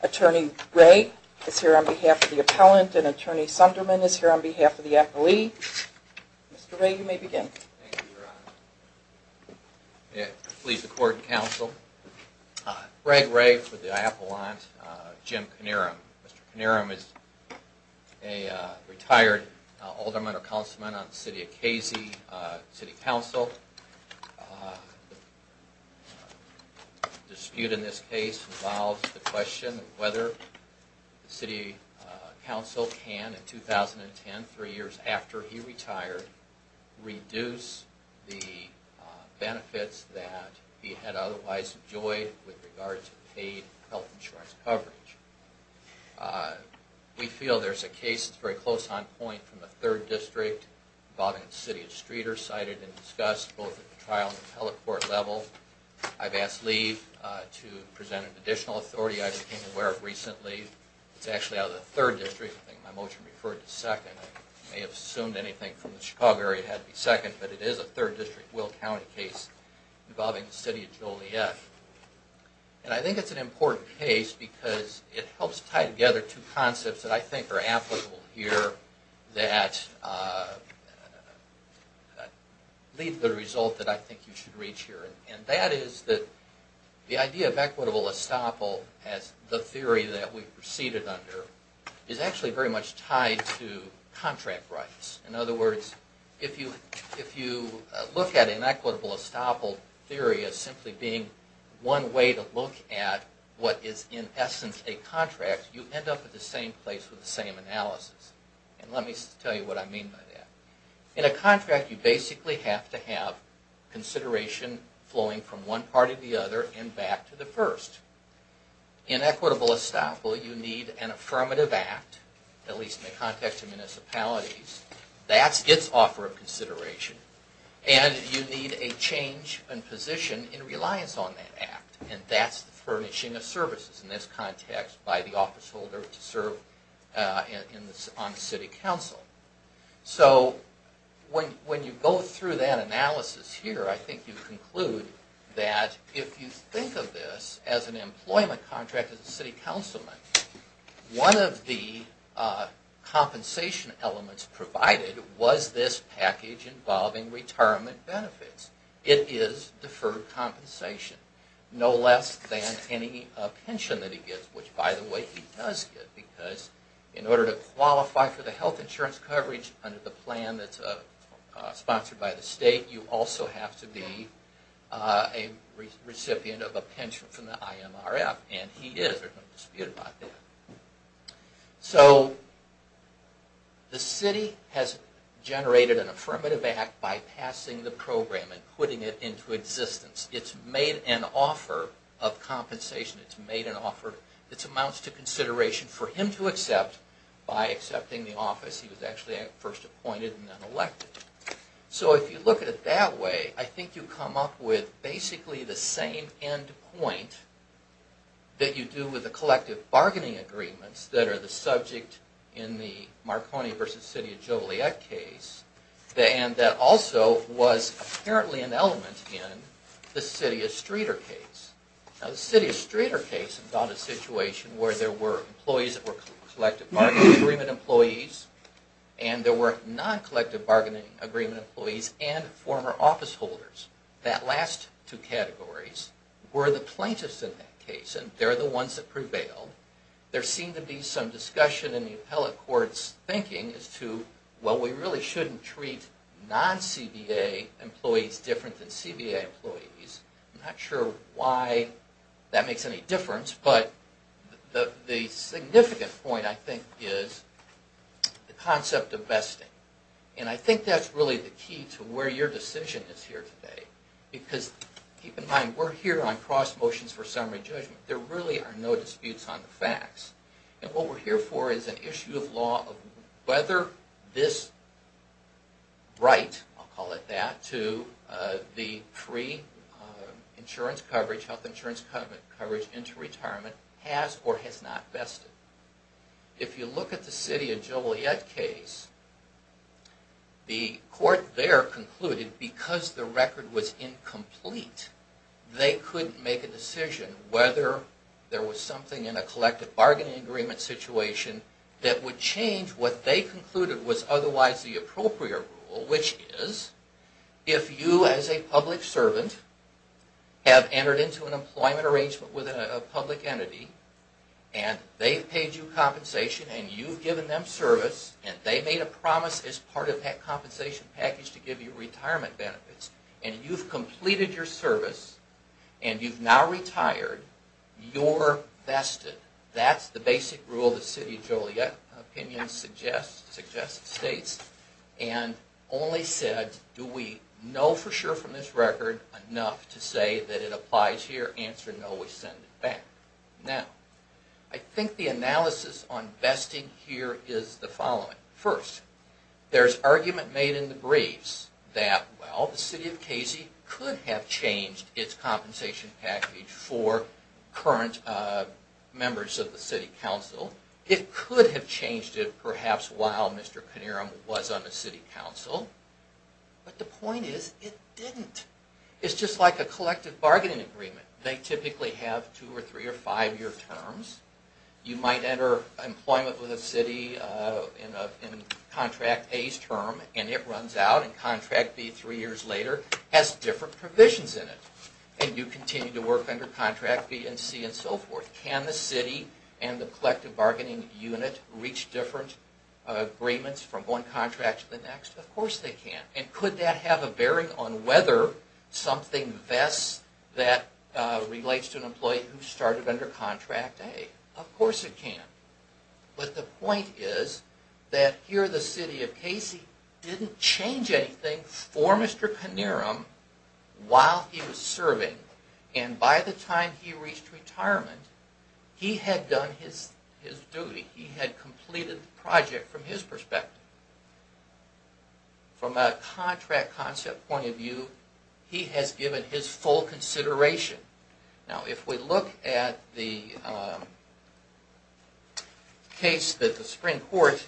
Attorney Ray is here on behalf of the appellant and Attorney Sunderman is here on behalf of the appellee. Mr. Ray, you may begin. Thank you, Your Honor. I plead the court and counsel. Greg Ray for the appellant, Jim Kinierim. Mr. Kinierim is a retired alderman or councilman on the City of Casey City Council. The dispute in this case involves the question of whether the City Council can, in 2010, three years after he retired, reduce the benefits that he had otherwise enjoyed with regards to paid health insurance coverage. We feel there's a case that's very close on point from the 3rd District involving the City of Streeter cited and discussed both at the trial and appellate court level. I've asked Lee to present an additional authority I became aware of recently. It's actually out of the 3rd District. I think my motion referred to 2nd. I may have assumed anything from the Chicago area had to be 2nd, but it is a 3rd District Will County case involving the City of Joliet. Yes. And I think it's an important case because it helps tie together two concepts that I think are applicable here that lead to the result that I think you should reach here. And that is that the idea of equitable estoppel as the theory that we proceeded under is actually very much tied to contract rights. In other words, if you look at an equitable estoppel theory as simply being one way to look at what is in essence a contract, you end up at the same place with the same analysis. And let me tell you what I mean by that. In a contract, you basically have to have consideration flowing from one part of the other and back to the first. In equitable estoppel, you need an affirmative act, at least in the context of municipalities. That's its offer of consideration. And you need a change in position in reliance on that act. And that's the furnishing of services in this context by the officeholder to serve on City Council. So when you go through that analysis here, I think you conclude that if you think of this as an employment contract as a City Councilman, one of the compensation elements provided was this package involving retirement benefits. It is deferred compensation. No less than any pension that he gets, which by the way, he does get. Because in order to qualify for the health insurance coverage under the plan that's sponsored by the state, you also have to be a recipient of a pension from the IMRF. And he is, there's no dispute about that. So the city has generated an affirmative act by passing the program and putting it into existence. It's made an offer of compensation. It amounts to consideration for him to accept by accepting the office. He was actually first appointed and then elected. So if you look at it that way, I think you come up with basically the same end point that you do with the collective bargaining agreements that are the subject in the Marconi v. City of Joliet case. And that also was apparently an element in the City of Streeter case. Now the City of Streeter case involved a situation where there were employees that were collective bargaining agreement employees and there were non-collective bargaining agreement employees and former office holders. That last two categories were the plaintiffs in that case and they're the ones that prevailed. There seemed to be some discussion in the appellate court's thinking as to, well, we really shouldn't treat non-CBA employees different than CBA employees. I'm not sure why that makes any difference, but the significant point I think is the concept of vesting. And I think that's really the key to where your decision is here today. Because keep in mind, we're here on cross motions for summary judgment. There really are no disputes on the facts. And what we're here for is an issue of law of whether this right, I'll call it that, to the pre-insurance coverage, health insurance coverage into retirement has or has not vested. If you look at the City of Joliet case, the court there concluded, because the record was incomplete, they couldn't make a decision whether there was something in a collective bargaining agreement situation that would change what they concluded was otherwise the appropriate rule, which is, if you as a public servant have entered into an employment arrangement with a public entity, and they've paid you compensation, and you've given them service, and they made a promise as part of that compensation package to give you retirement benefits, and you've completed your service, and you've now retired, you're vested. That's the basic rule the City of Joliet opinion suggests, states, and only said, do we know for sure from this record enough to say that it applies here? Answer, no, we send it back. Now, I think the analysis on vesting here is the following. First, there's argument made in the briefs that, well, the City of Casey could have changed its compensation package for current members of the City Council. It could have changed it, perhaps, while Mr. Connerum was on the City Council. But the point is, it didn't. It's just like a collective bargaining agreement. They typically have two or three or five-year terms. You might enter employment with a city in Contract A's term, and it runs out, and Contract B three years later has different provisions in it. And you continue to work under Contract B and C and so forth. Can the city and the collective bargaining unit reach different agreements from one contract to the next? Of course they can. And could that have a bearing on whether something vests that relates to an employee who started under Contract A? Of course it can. But the point is that here the City of Casey didn't change anything for Mr. Connerum while he was serving. And by the time he reached retirement, he had done his duty. He had completed the project from his perspective. From a contract concept point of view, he has given his full consideration. Now, if we look at the case that the Supreme Court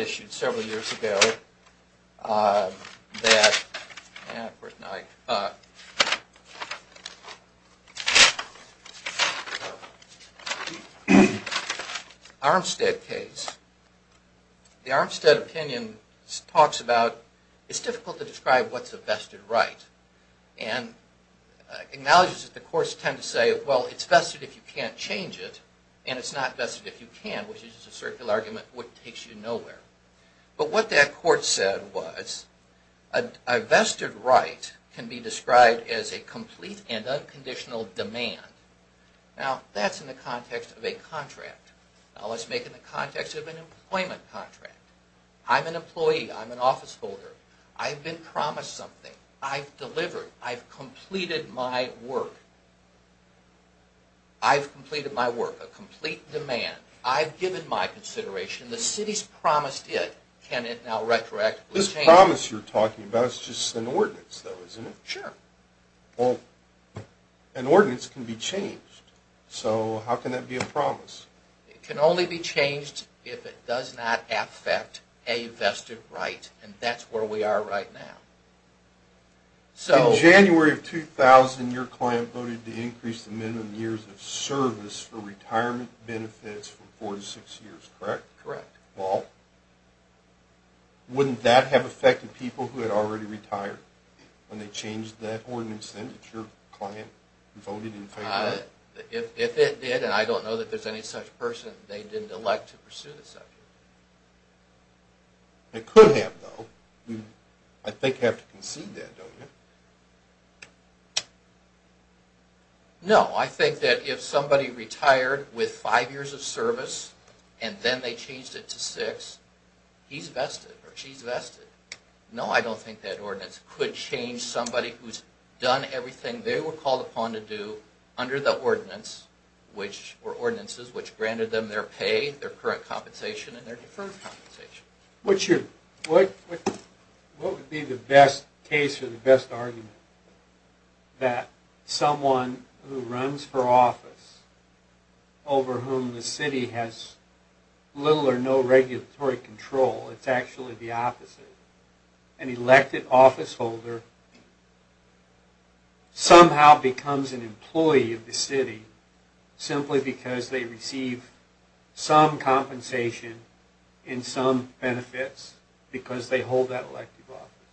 issued several years ago, the Armstead case, the Armstead opinion talks about it's difficult to describe what's a vested right. And acknowledges that the courts tend to say, well, it's vested if you can't change it, and it's not vested if you can, which is a circular argument, which takes you nowhere. But what that court said was, a vested right can be described as a complete and unconditional demand. Now, that's in the context of a contract. Now let's make it in the context of an employment contract. I'm an employee. I'm an officeholder. I've been promised something. I've delivered. I've completed my work. I've completed my work, a complete demand. I've given my consideration. The city's promised it. Can it now retroactively change? This promise you're talking about is just an ordinance, though, isn't it? Sure. Well, an ordinance can be changed. So how can that be a promise? It can only be changed if it does not affect a vested right, and that's where we are right now. In January of 2000, your client voted to increase the minimum years of service for retirement benefits from four to six years, correct? Correct. Well, wouldn't that have affected people who had already retired when they changed that ordinance, then, if your client voted in favor? If it did, and I don't know that there's any such person they didn't elect to pursue the subject. It could have, though. You, I think, have to concede that, don't you? No. I think that if somebody retired with five years of service, and then they changed it to six, he's vested, or she's vested. No, I don't think that ordinance could change somebody who's done everything they were called upon to do under the ordinance, or ordinances, which granted them their pay, their current compensation, and their deferred compensation. What would be the best case, or the best argument, that someone who runs for office, over whom the city has little or no regulatory control, it's actually the opposite, an elected officeholder, somehow becomes an employee of the city, simply because they receive some compensation, and some benefits, because they hold that elective office?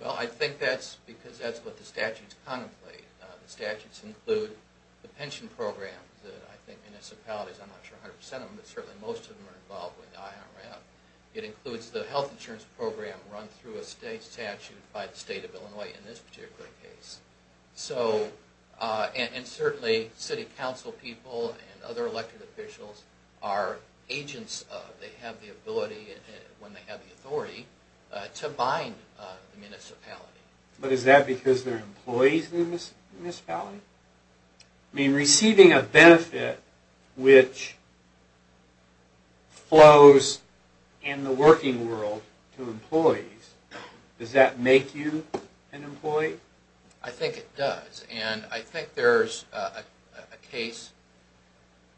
Well, I think that's because that's what the statutes contemplate. The statutes include the pension programs that I think municipalities, I'm not sure 100% of them, but certainly most of them are involved with the IRF. It includes the health insurance program run through a state statute by the state of Illinois in this particular case. So, and certainly city council people and other elected officials are agents of, they have the ability, when they have the authority, to bind the municipality. But is that because they're employees in the municipality? I mean, receiving a benefit which flows in the working world to employees, does that make you an employee? I think it does, and I think there's a case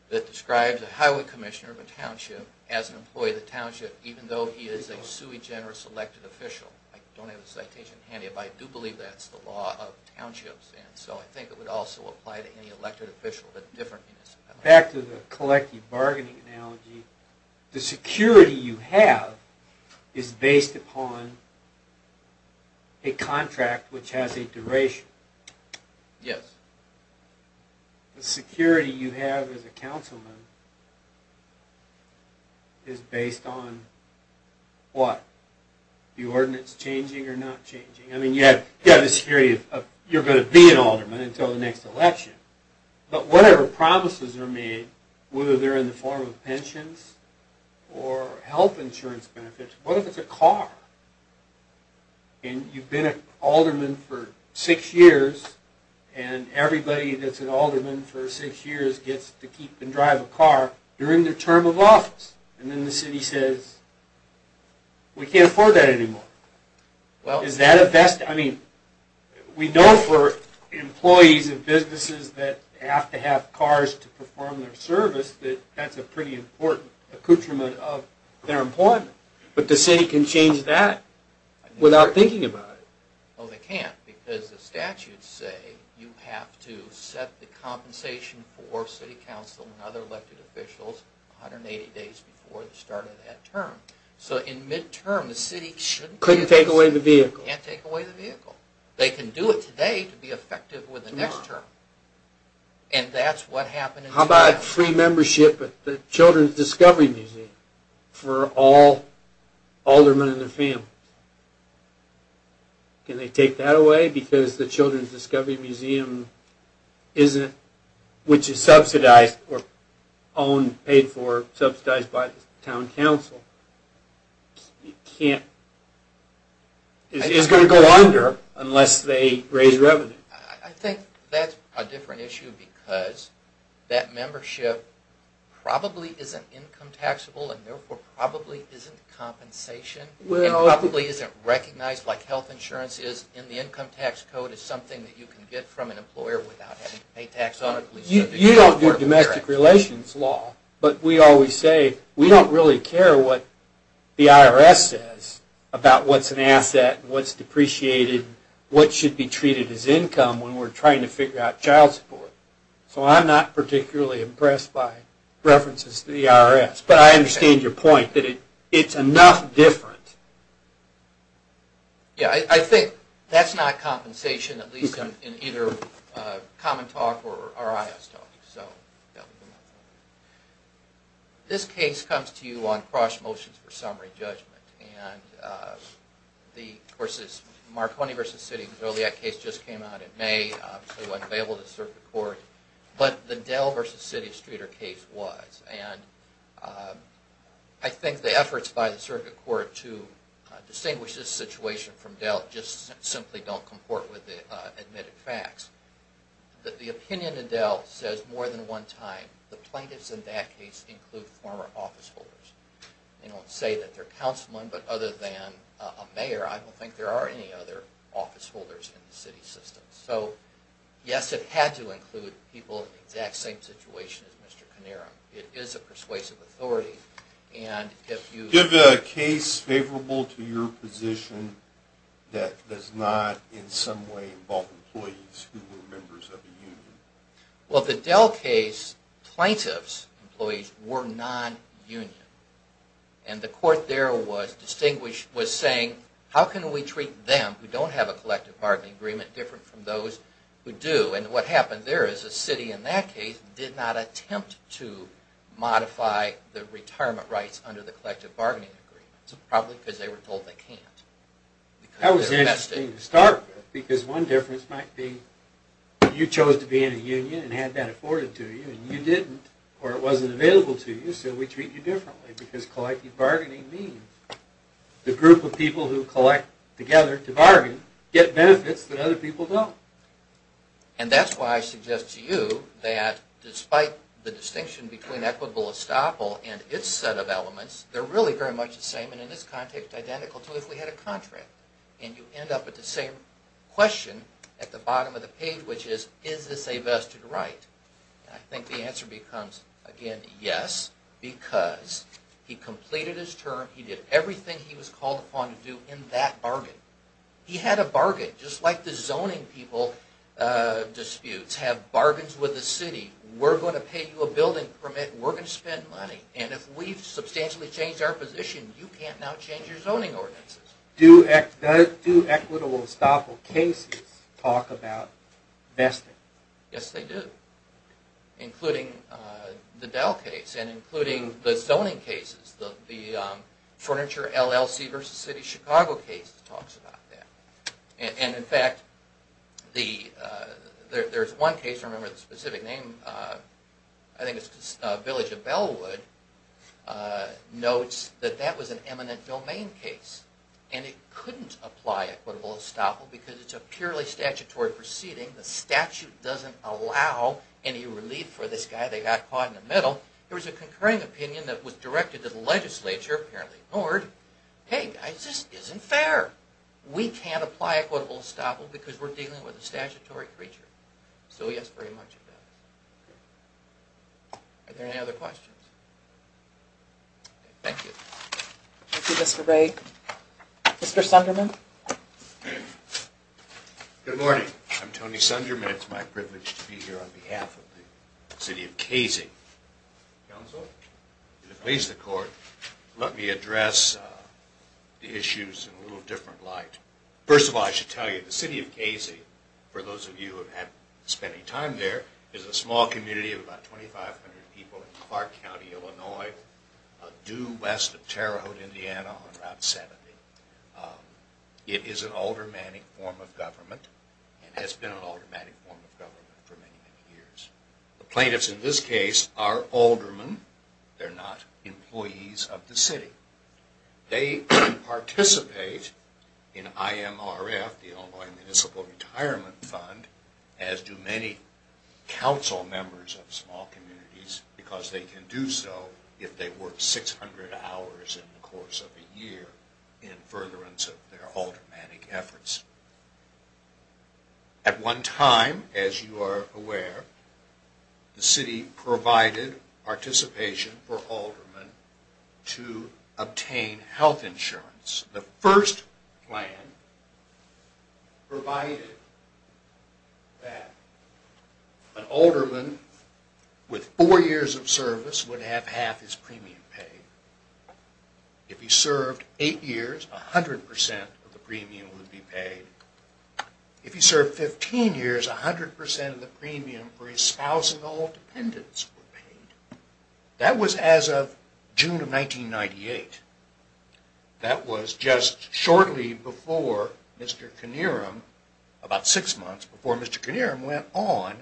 that describes a highway commissioner of a township as an employee of the township, even though he is a sui generis elected official. I don't have the citation handy, but I do believe that's the law of townships, and so I think it would also apply to any elected official in a different municipality. Back to the collective bargaining analogy, the security you have is based upon a contract which has a duration. The security you have as a councilman is based on what? The ordinance changing or not changing? I mean, you have the security of you're going to be an alderman until the next election, but whatever promises are made, whether they're in the form of pensions or health insurance benefits, what if it's a car? And you've been an alderman for six years, and everybody that's an alderman for six years gets to keep and drive a car during their term of office, and then the city says, we can't afford that anymore. Is that a best? I mean, we know for employees and businesses that have to have cars to perform their service that that's a pretty important accoutrement of their employment, but the city can change that without thinking about it. No, they can't, because the statutes say you have to set the compensation for city council and other elected officials 180 days before the start of that term. So in mid-term, the city can't take away the vehicle. They can do it today to be effective for the next term. How about free membership at the Children's Discovery Museum for all aldermen and their families? Can they take that away? Because the Children's Discovery Museum, which is subsidized by the town council, is going to go under unless they raise revenue. I think that's a different issue, because that membership probably isn't income taxable, and therefore probably isn't compensation, and probably isn't recognized like health insurance is in the income tax code as something that you can get from an employer without having to pay tax on it. You don't do domestic relations law, but we always say we don't really care what the IRS says about what's an asset, what's depreciated, what should be treated as income when we're trying to figure out child support. So I'm not particularly impressed by references to the IRS, but I understand your point that it's enough different. Yeah, I think that's not compensation, at least in either common talk or IRS talk. This case comes to you on cross motions for summary judgment. The Marconi v. City Zodiac case just came out in May, so it wasn't available to the Circuit Court, but the Dell v. City Streeter case was. And I think the efforts by the Circuit Court to distinguish this situation from Dell just simply don't comport with the admitted facts. The opinion in Dell says more than one time the plaintiffs in that case include former office holders. They don't say that they're councilmen, but other than a mayor, I don't think there are any other office holders in the city system. So yes, it had to include people in the exact same situation as Mr. Connero. It is a persuasive authority. Is the case favorable to your position that does not in some way involve employees who were members of a union? Well, the Dell case, plaintiffs' employees were non-union. And the court there was saying, how can we treat them who don't have a collective bargaining agreement different from those who do? And what happened there is the city in that case did not attempt to modify the retirement rights under the collective bargaining agreement. It's probably because they were told they can't. That was interesting to start with, because one difference might be you chose to be in a union and had that afforded to you, and you didn't, or it wasn't available to you, so we treat you differently. Because collective bargaining means the group of people who collect together to bargain get benefits that other people don't. And that's why I suggest to you that despite the distinction between equitable estoppel and its set of elements, they're really very much the same and in this context identical to if we had a contract. And you end up with the same question at the bottom of the page, which is, is this a vested right? And I think the answer becomes, again, yes, because he completed his term, he did everything he was called upon to do in that bargain. He had a bargain, just like the zoning people disputes have bargains with the city. We're going to pay you a building permit, we're going to spend money, and if we've substantially changed our position, you can't now change your zoning ordinances. Do equitable estoppel cases talk about vesting? Yes, they do, including the Dell case and including the zoning cases. The Furniture LLC v. City of Chicago case talks about that. And in fact, there's one case, I don't remember the specific name, I think it's Village of Bellwood, notes that that was an eminent domain case. And it couldn't apply equitable estoppel because it's a purely statutory proceeding. The statute doesn't allow any relief for this guy, they got caught in the middle. There was a concurring opinion that was directed to the legislature, apparently ignored. Hey, this isn't fair. We can't apply equitable estoppel because we're dealing with a statutory creature. So yes, very much of that. Are there any other questions? Thank you. Thank you, Mr. Ray. Mr. Sunderman? Good morning, I'm Tony Sunderman, it's my privilege to be here on behalf of the City of Casey. Counsel, to please the court, let me address the issues in a little different light. First of all, I should tell you, the City of Casey, for those of you who have spent any time there, is a small community of about 2,500 people in Clark County, Illinois, due west of Terre Haute, Indiana on Route 70. It is an aldermanic form of government and has been an aldermanic form of government for many, many years. The plaintiffs in this case are aldermen, they're not employees of the city. They participate in IMRF, the Illinois Municipal Retirement Fund, as do many council members of small communities, because they can do so if they work 600 hours in the course of a year in furtherance of their aldermanic efforts. At one time, as you are aware, the city provided participation for aldermen to obtain health insurance. The first plan provided that an alderman with four years of service would have half his premium paid. If he served eight years, 100% of the premium would be paid. If he served 15 years, 100% of the premium for his spouse and all dependents would be paid. That was as of June of 1998. That was just shortly before Mr. Knierim, about six months before Mr. Knierim, went on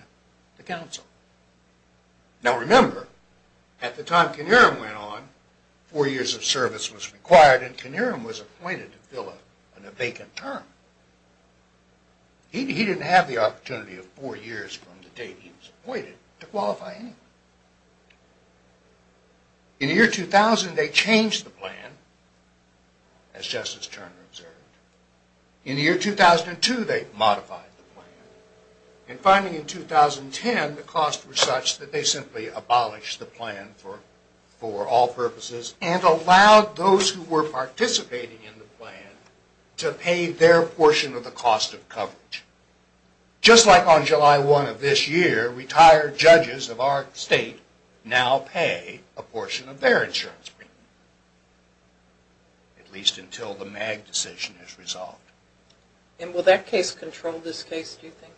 to council. Now remember, at the time Knierim went on, four years of service was required and Knierim was appointed to fill in a vacant term. He didn't have the opportunity of four years from the date he was appointed to qualify anyone. In the year 2000, they changed the plan, as Justice Turner observed. In the year 2002, they modified the plan. And finally in 2010, the costs were such that they simply abolished the plan for all purposes and allowed those who were participating in the plan to pay their portion of the cost of coverage. Just like on July 1 of this year, retired judges of our state now pay a portion of their insurance premium, at least until the MAG decision is resolved. And will that case control this case, do you think?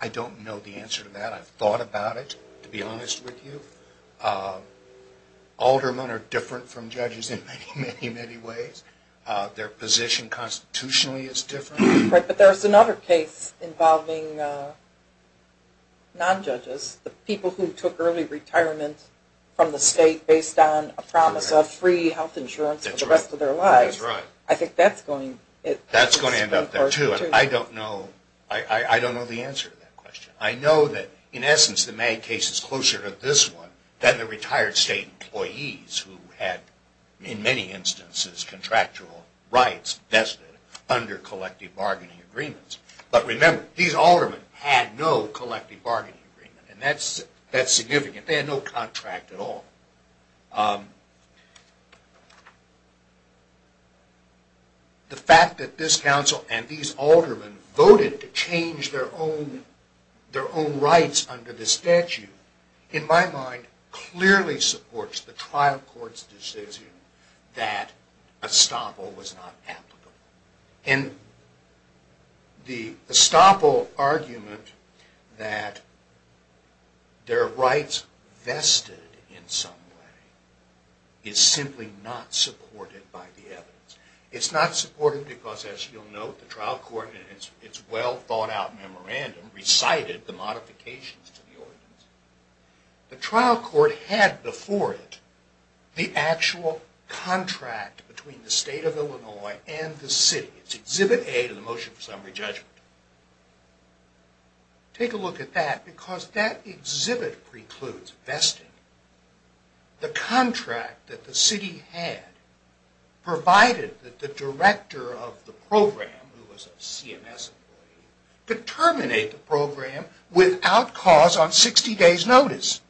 I don't know the answer to that. I've thought about it, to be honest with you. Aldermen are different from judges in many, many ways. Their position constitutionally is different. But there's another case involving non-judges, the people who took early retirement from the state based on a promise of free health insurance for the rest of their lives. I think that's going to end up there, too. I don't know the answer to that question. I know that in essence the MAG case is closer to this one than the retired state employees who had in many instances contractual rights vested under collective bargaining agreements. But remember, these aldermen had no collective bargaining agreement, and that's significant. They had no contract at all. The fact that this council and these aldermen voted to change their own rights under the statute, in my mind, clearly supports the trial court's decision that estoppel was not applicable. And the estoppel argument that their rights vested in some way is simply not supported by the evidence. It's not supported because, as you'll note, the trial court in its well-thought-out memorandum recited the modifications to the ordinance. The trial court had before it the actual contract between the state of Illinois and the city. It's Exhibit A to the Motion for Summary Judgment. Take a look at that, because that exhibit precludes vesting. The contract that the city had provided that the director of the program, who was a CMS employee, could terminate the program without cause on 60 days' notice.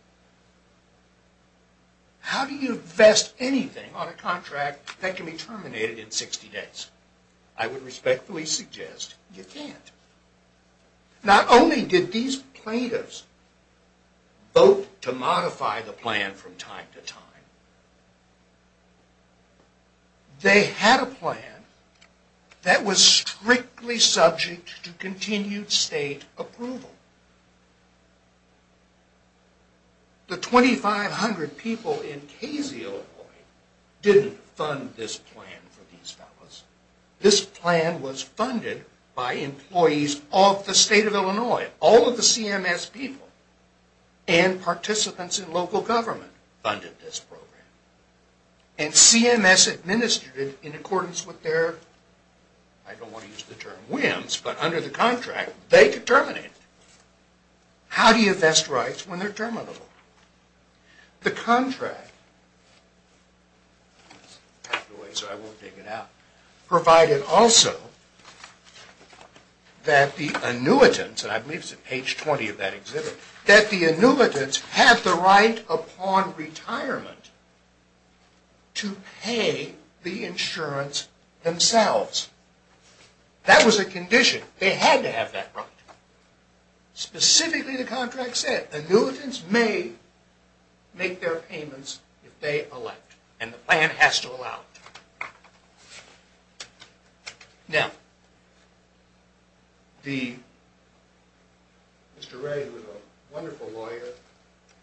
How do you vest anything on a contract that can be terminated in 60 days? I would respectfully suggest you can't. Not only did these plaintiffs vote to modify the plan from time to time, they had a plan that was strictly subject to continued state approval. The 2,500 people in Casey, Illinois, didn't fund this plan for these fellows. This plan was funded by employees of the state of Illinois. All of the CMS people and participants in local government funded this program. And CMS administered it in accordance with their, I don't want to use the term whims, but under the contract, they could terminate it. How do you vest rights when they're terminable? The contract provided also that the annuitants, and I believe it's at page 20 of that exhibit, that the annuitants have the right upon retirement to pay the insurance themselves. That was a condition. They had to have that right. Specifically, the contract said annuitants may make their payments if they elect, and the plan has to allow it. Now, Mr. Ray, who is a wonderful lawyer,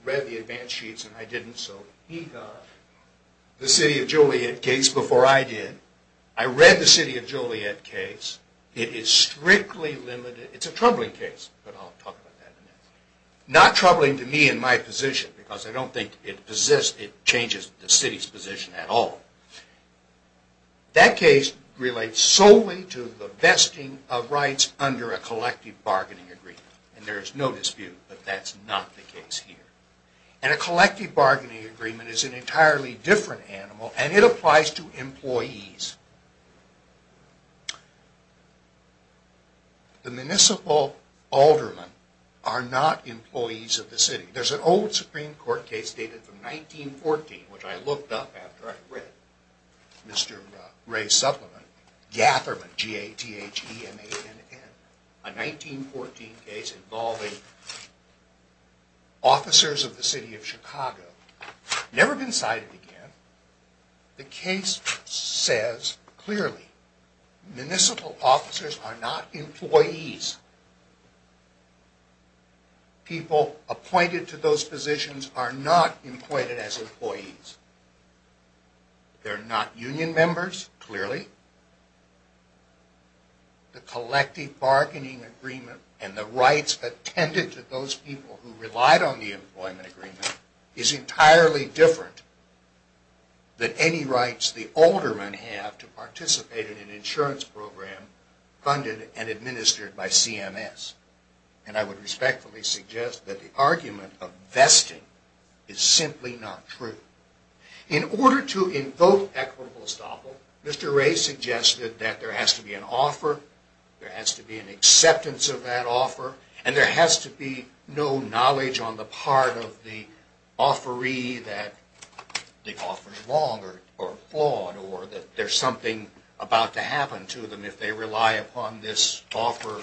read the advance sheets and I didn't, so he got the City of Joliet case before I did. I read the City of Joliet case. It is strictly limited. It's a troubling case, but I'll talk about that in a minute. Not troubling to me in my position, because I don't think it changes the city's position at all. That case relates solely to the vesting of rights under a collective bargaining agreement, and there is no dispute that that's not the case here. A collective bargaining agreement is an entirely different animal, and it applies to employees. The municipal aldermen are not employees of the city. There's an old Supreme Court case dated from 1914, which I looked up after I read Mr. Ray's supplement, Gatherman, G-A-T-H-E-M-A-N-N, a 1914 case involving officers of the City of Chicago. Never been cited again. The case says clearly municipal officers are not employees. People appointed to those positions are not employed as employees. They're not union members, clearly. The collective bargaining agreement and the rights attended to those people who relied on the employment agreement is entirely different than any rights the aldermen have to participate in an insurance program funded and administered by CMS. And I would respectfully suggest that the argument of vesting is simply not true. In order to invoke equitable estoppel, Mr. Ray suggested that there has to be an offer, there has to be an acceptance of that offer, and there has to be no knowledge on the part of the offeree that the offer's wrong or flawed or that there's something about to happen to them if they rely upon this offer.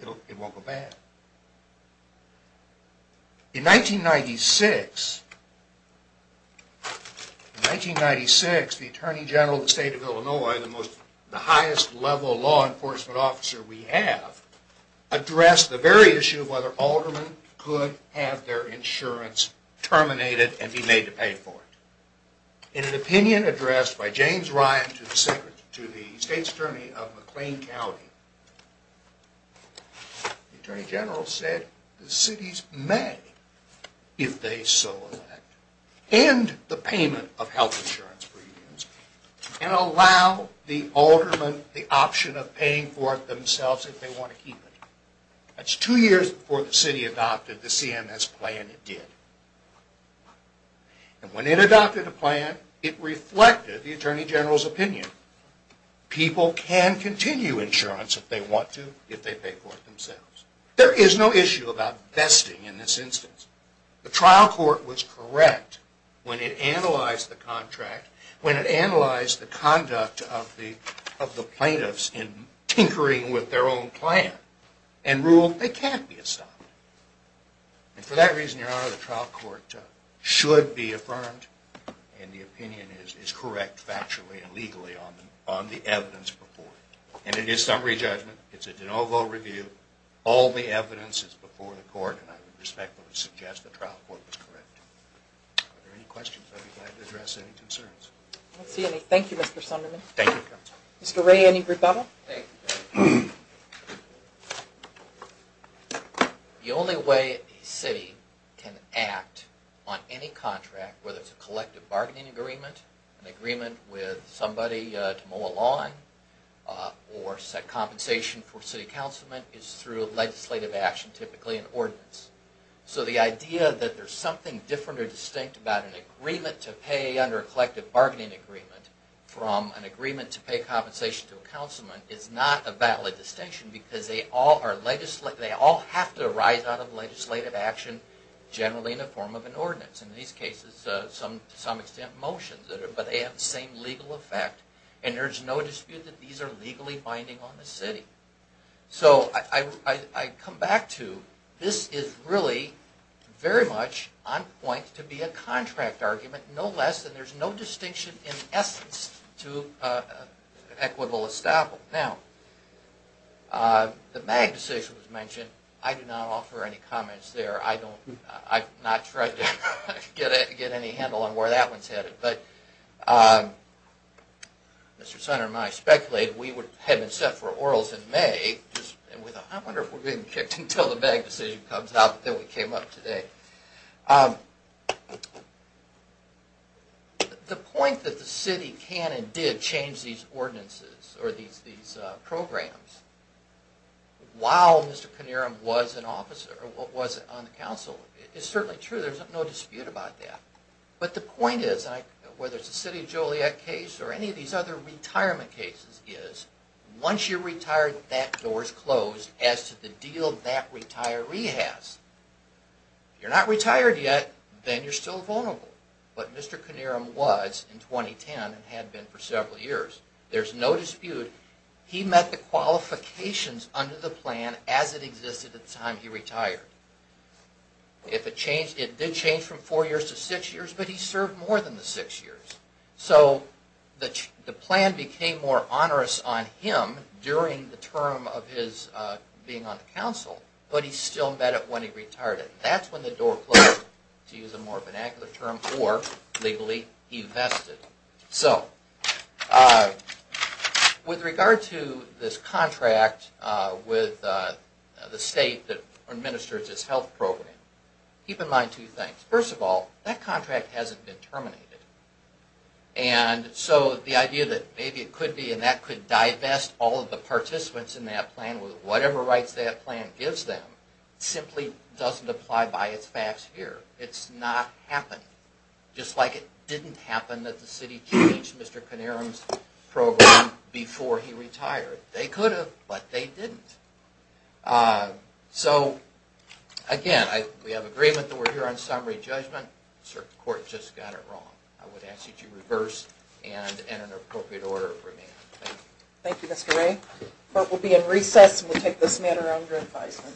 It won't go bad. In 1996, the Attorney General of the State of Illinois, the highest level law enforcement officer we have, addressed the very issue of whether aldermen could have their insurance terminated and be made to pay for it. In an opinion addressed by James Ryan to the State's Attorney of McLean County, the Attorney General said the cities may, if they so elect, end the payment of health insurance premiums and allow the aldermen the option of paying for it themselves if they want to keep it. That's two years before the city adopted the CMS plan it did. And when it adopted the plan, it reflected the Attorney General's opinion. People can continue insurance if they want to, if they pay for it themselves. There is no issue about vesting in this instance. The trial court was correct when it analyzed the contract, when it analyzed the conduct of the plaintiffs in tinkering with their own plan and ruled they can't be estoppel. And for that reason, Your Honor, the trial court should be affirmed and the opinion is correct factually and legally on the evidence before it. And it is summary judgment. It's a de novo review. All the evidence is before the court and I would respectfully suggest the trial court was correct. Are there any questions? I'd be glad to address any concerns. I don't see any. Thank you, Mr. Sunderman. Thank you, Counsel. Mr. Ray, any rebuttal? Thank you. The only way a city can act on any contract, whether it's a collective bargaining agreement, an agreement with somebody to mow a lawn, or set compensation for city councilmen, is through legislative action, typically an ordinance. So the idea that there's something different or distinct about an agreement to pay under a collective bargaining agreement from an agreement to pay compensation to a councilman is not a valid distinction because they all have to arise out of legislative action, generally in the form of an ordinance. In these cases, to some extent motions, but they have the same legal effect and there's no dispute that these are legally binding on the city. So I come back to this is really very much on point to be a contract argument, no less, and there's no distinction in essence to equitable establishment. Now, the MAG decision was mentioned. I do not offer any comments there. I've not tried to get any handle on where that one's headed. Mr. Sunderman, I speculated we had been set for orals in May. I wonder if we're getting kicked until the MAG decision comes out that we came up today. The point that the city can and did change these ordinances or these programs while Mr. Connerum was an officer or was on the council is certainly true. There's no dispute about that. But the point is, whether it's the City of Joliet case or any of these other retirement cases, is once you're retired, that door's closed as to the deal that retiree has. If you're not retired yet, then you're still vulnerable. But Mr. Connerum was in 2010 and had been for several years. There's no dispute he met the qualifications under the plan as it existed at the time he retired. It did change from four years to six years, but he served more than the six years. So the plan became more onerous on him during the term of his being on the council, but he still met it when he retired. That's when the door closed, to use a more vernacular term, or, legally, he vested. So with regard to this contract with the state that administers this health program, keep in mind two things. First of all, that contract hasn't been terminated. And so the idea that maybe it could be and that could divest all of the participants in that plan with whatever rights that plan gives them simply doesn't apply by its facts here. It's not happening, just like it didn't happen that the city changed Mr. Connerum's program before he retired. They could have, but they didn't. So, again, we have agreement that we're here on summary judgment. The circuit court just got it wrong. I would ask that you reverse and enter an appropriate order for me. Thank you. Thank you, Mr. Ray. Court will be in recess, and we'll take this matter under advisement.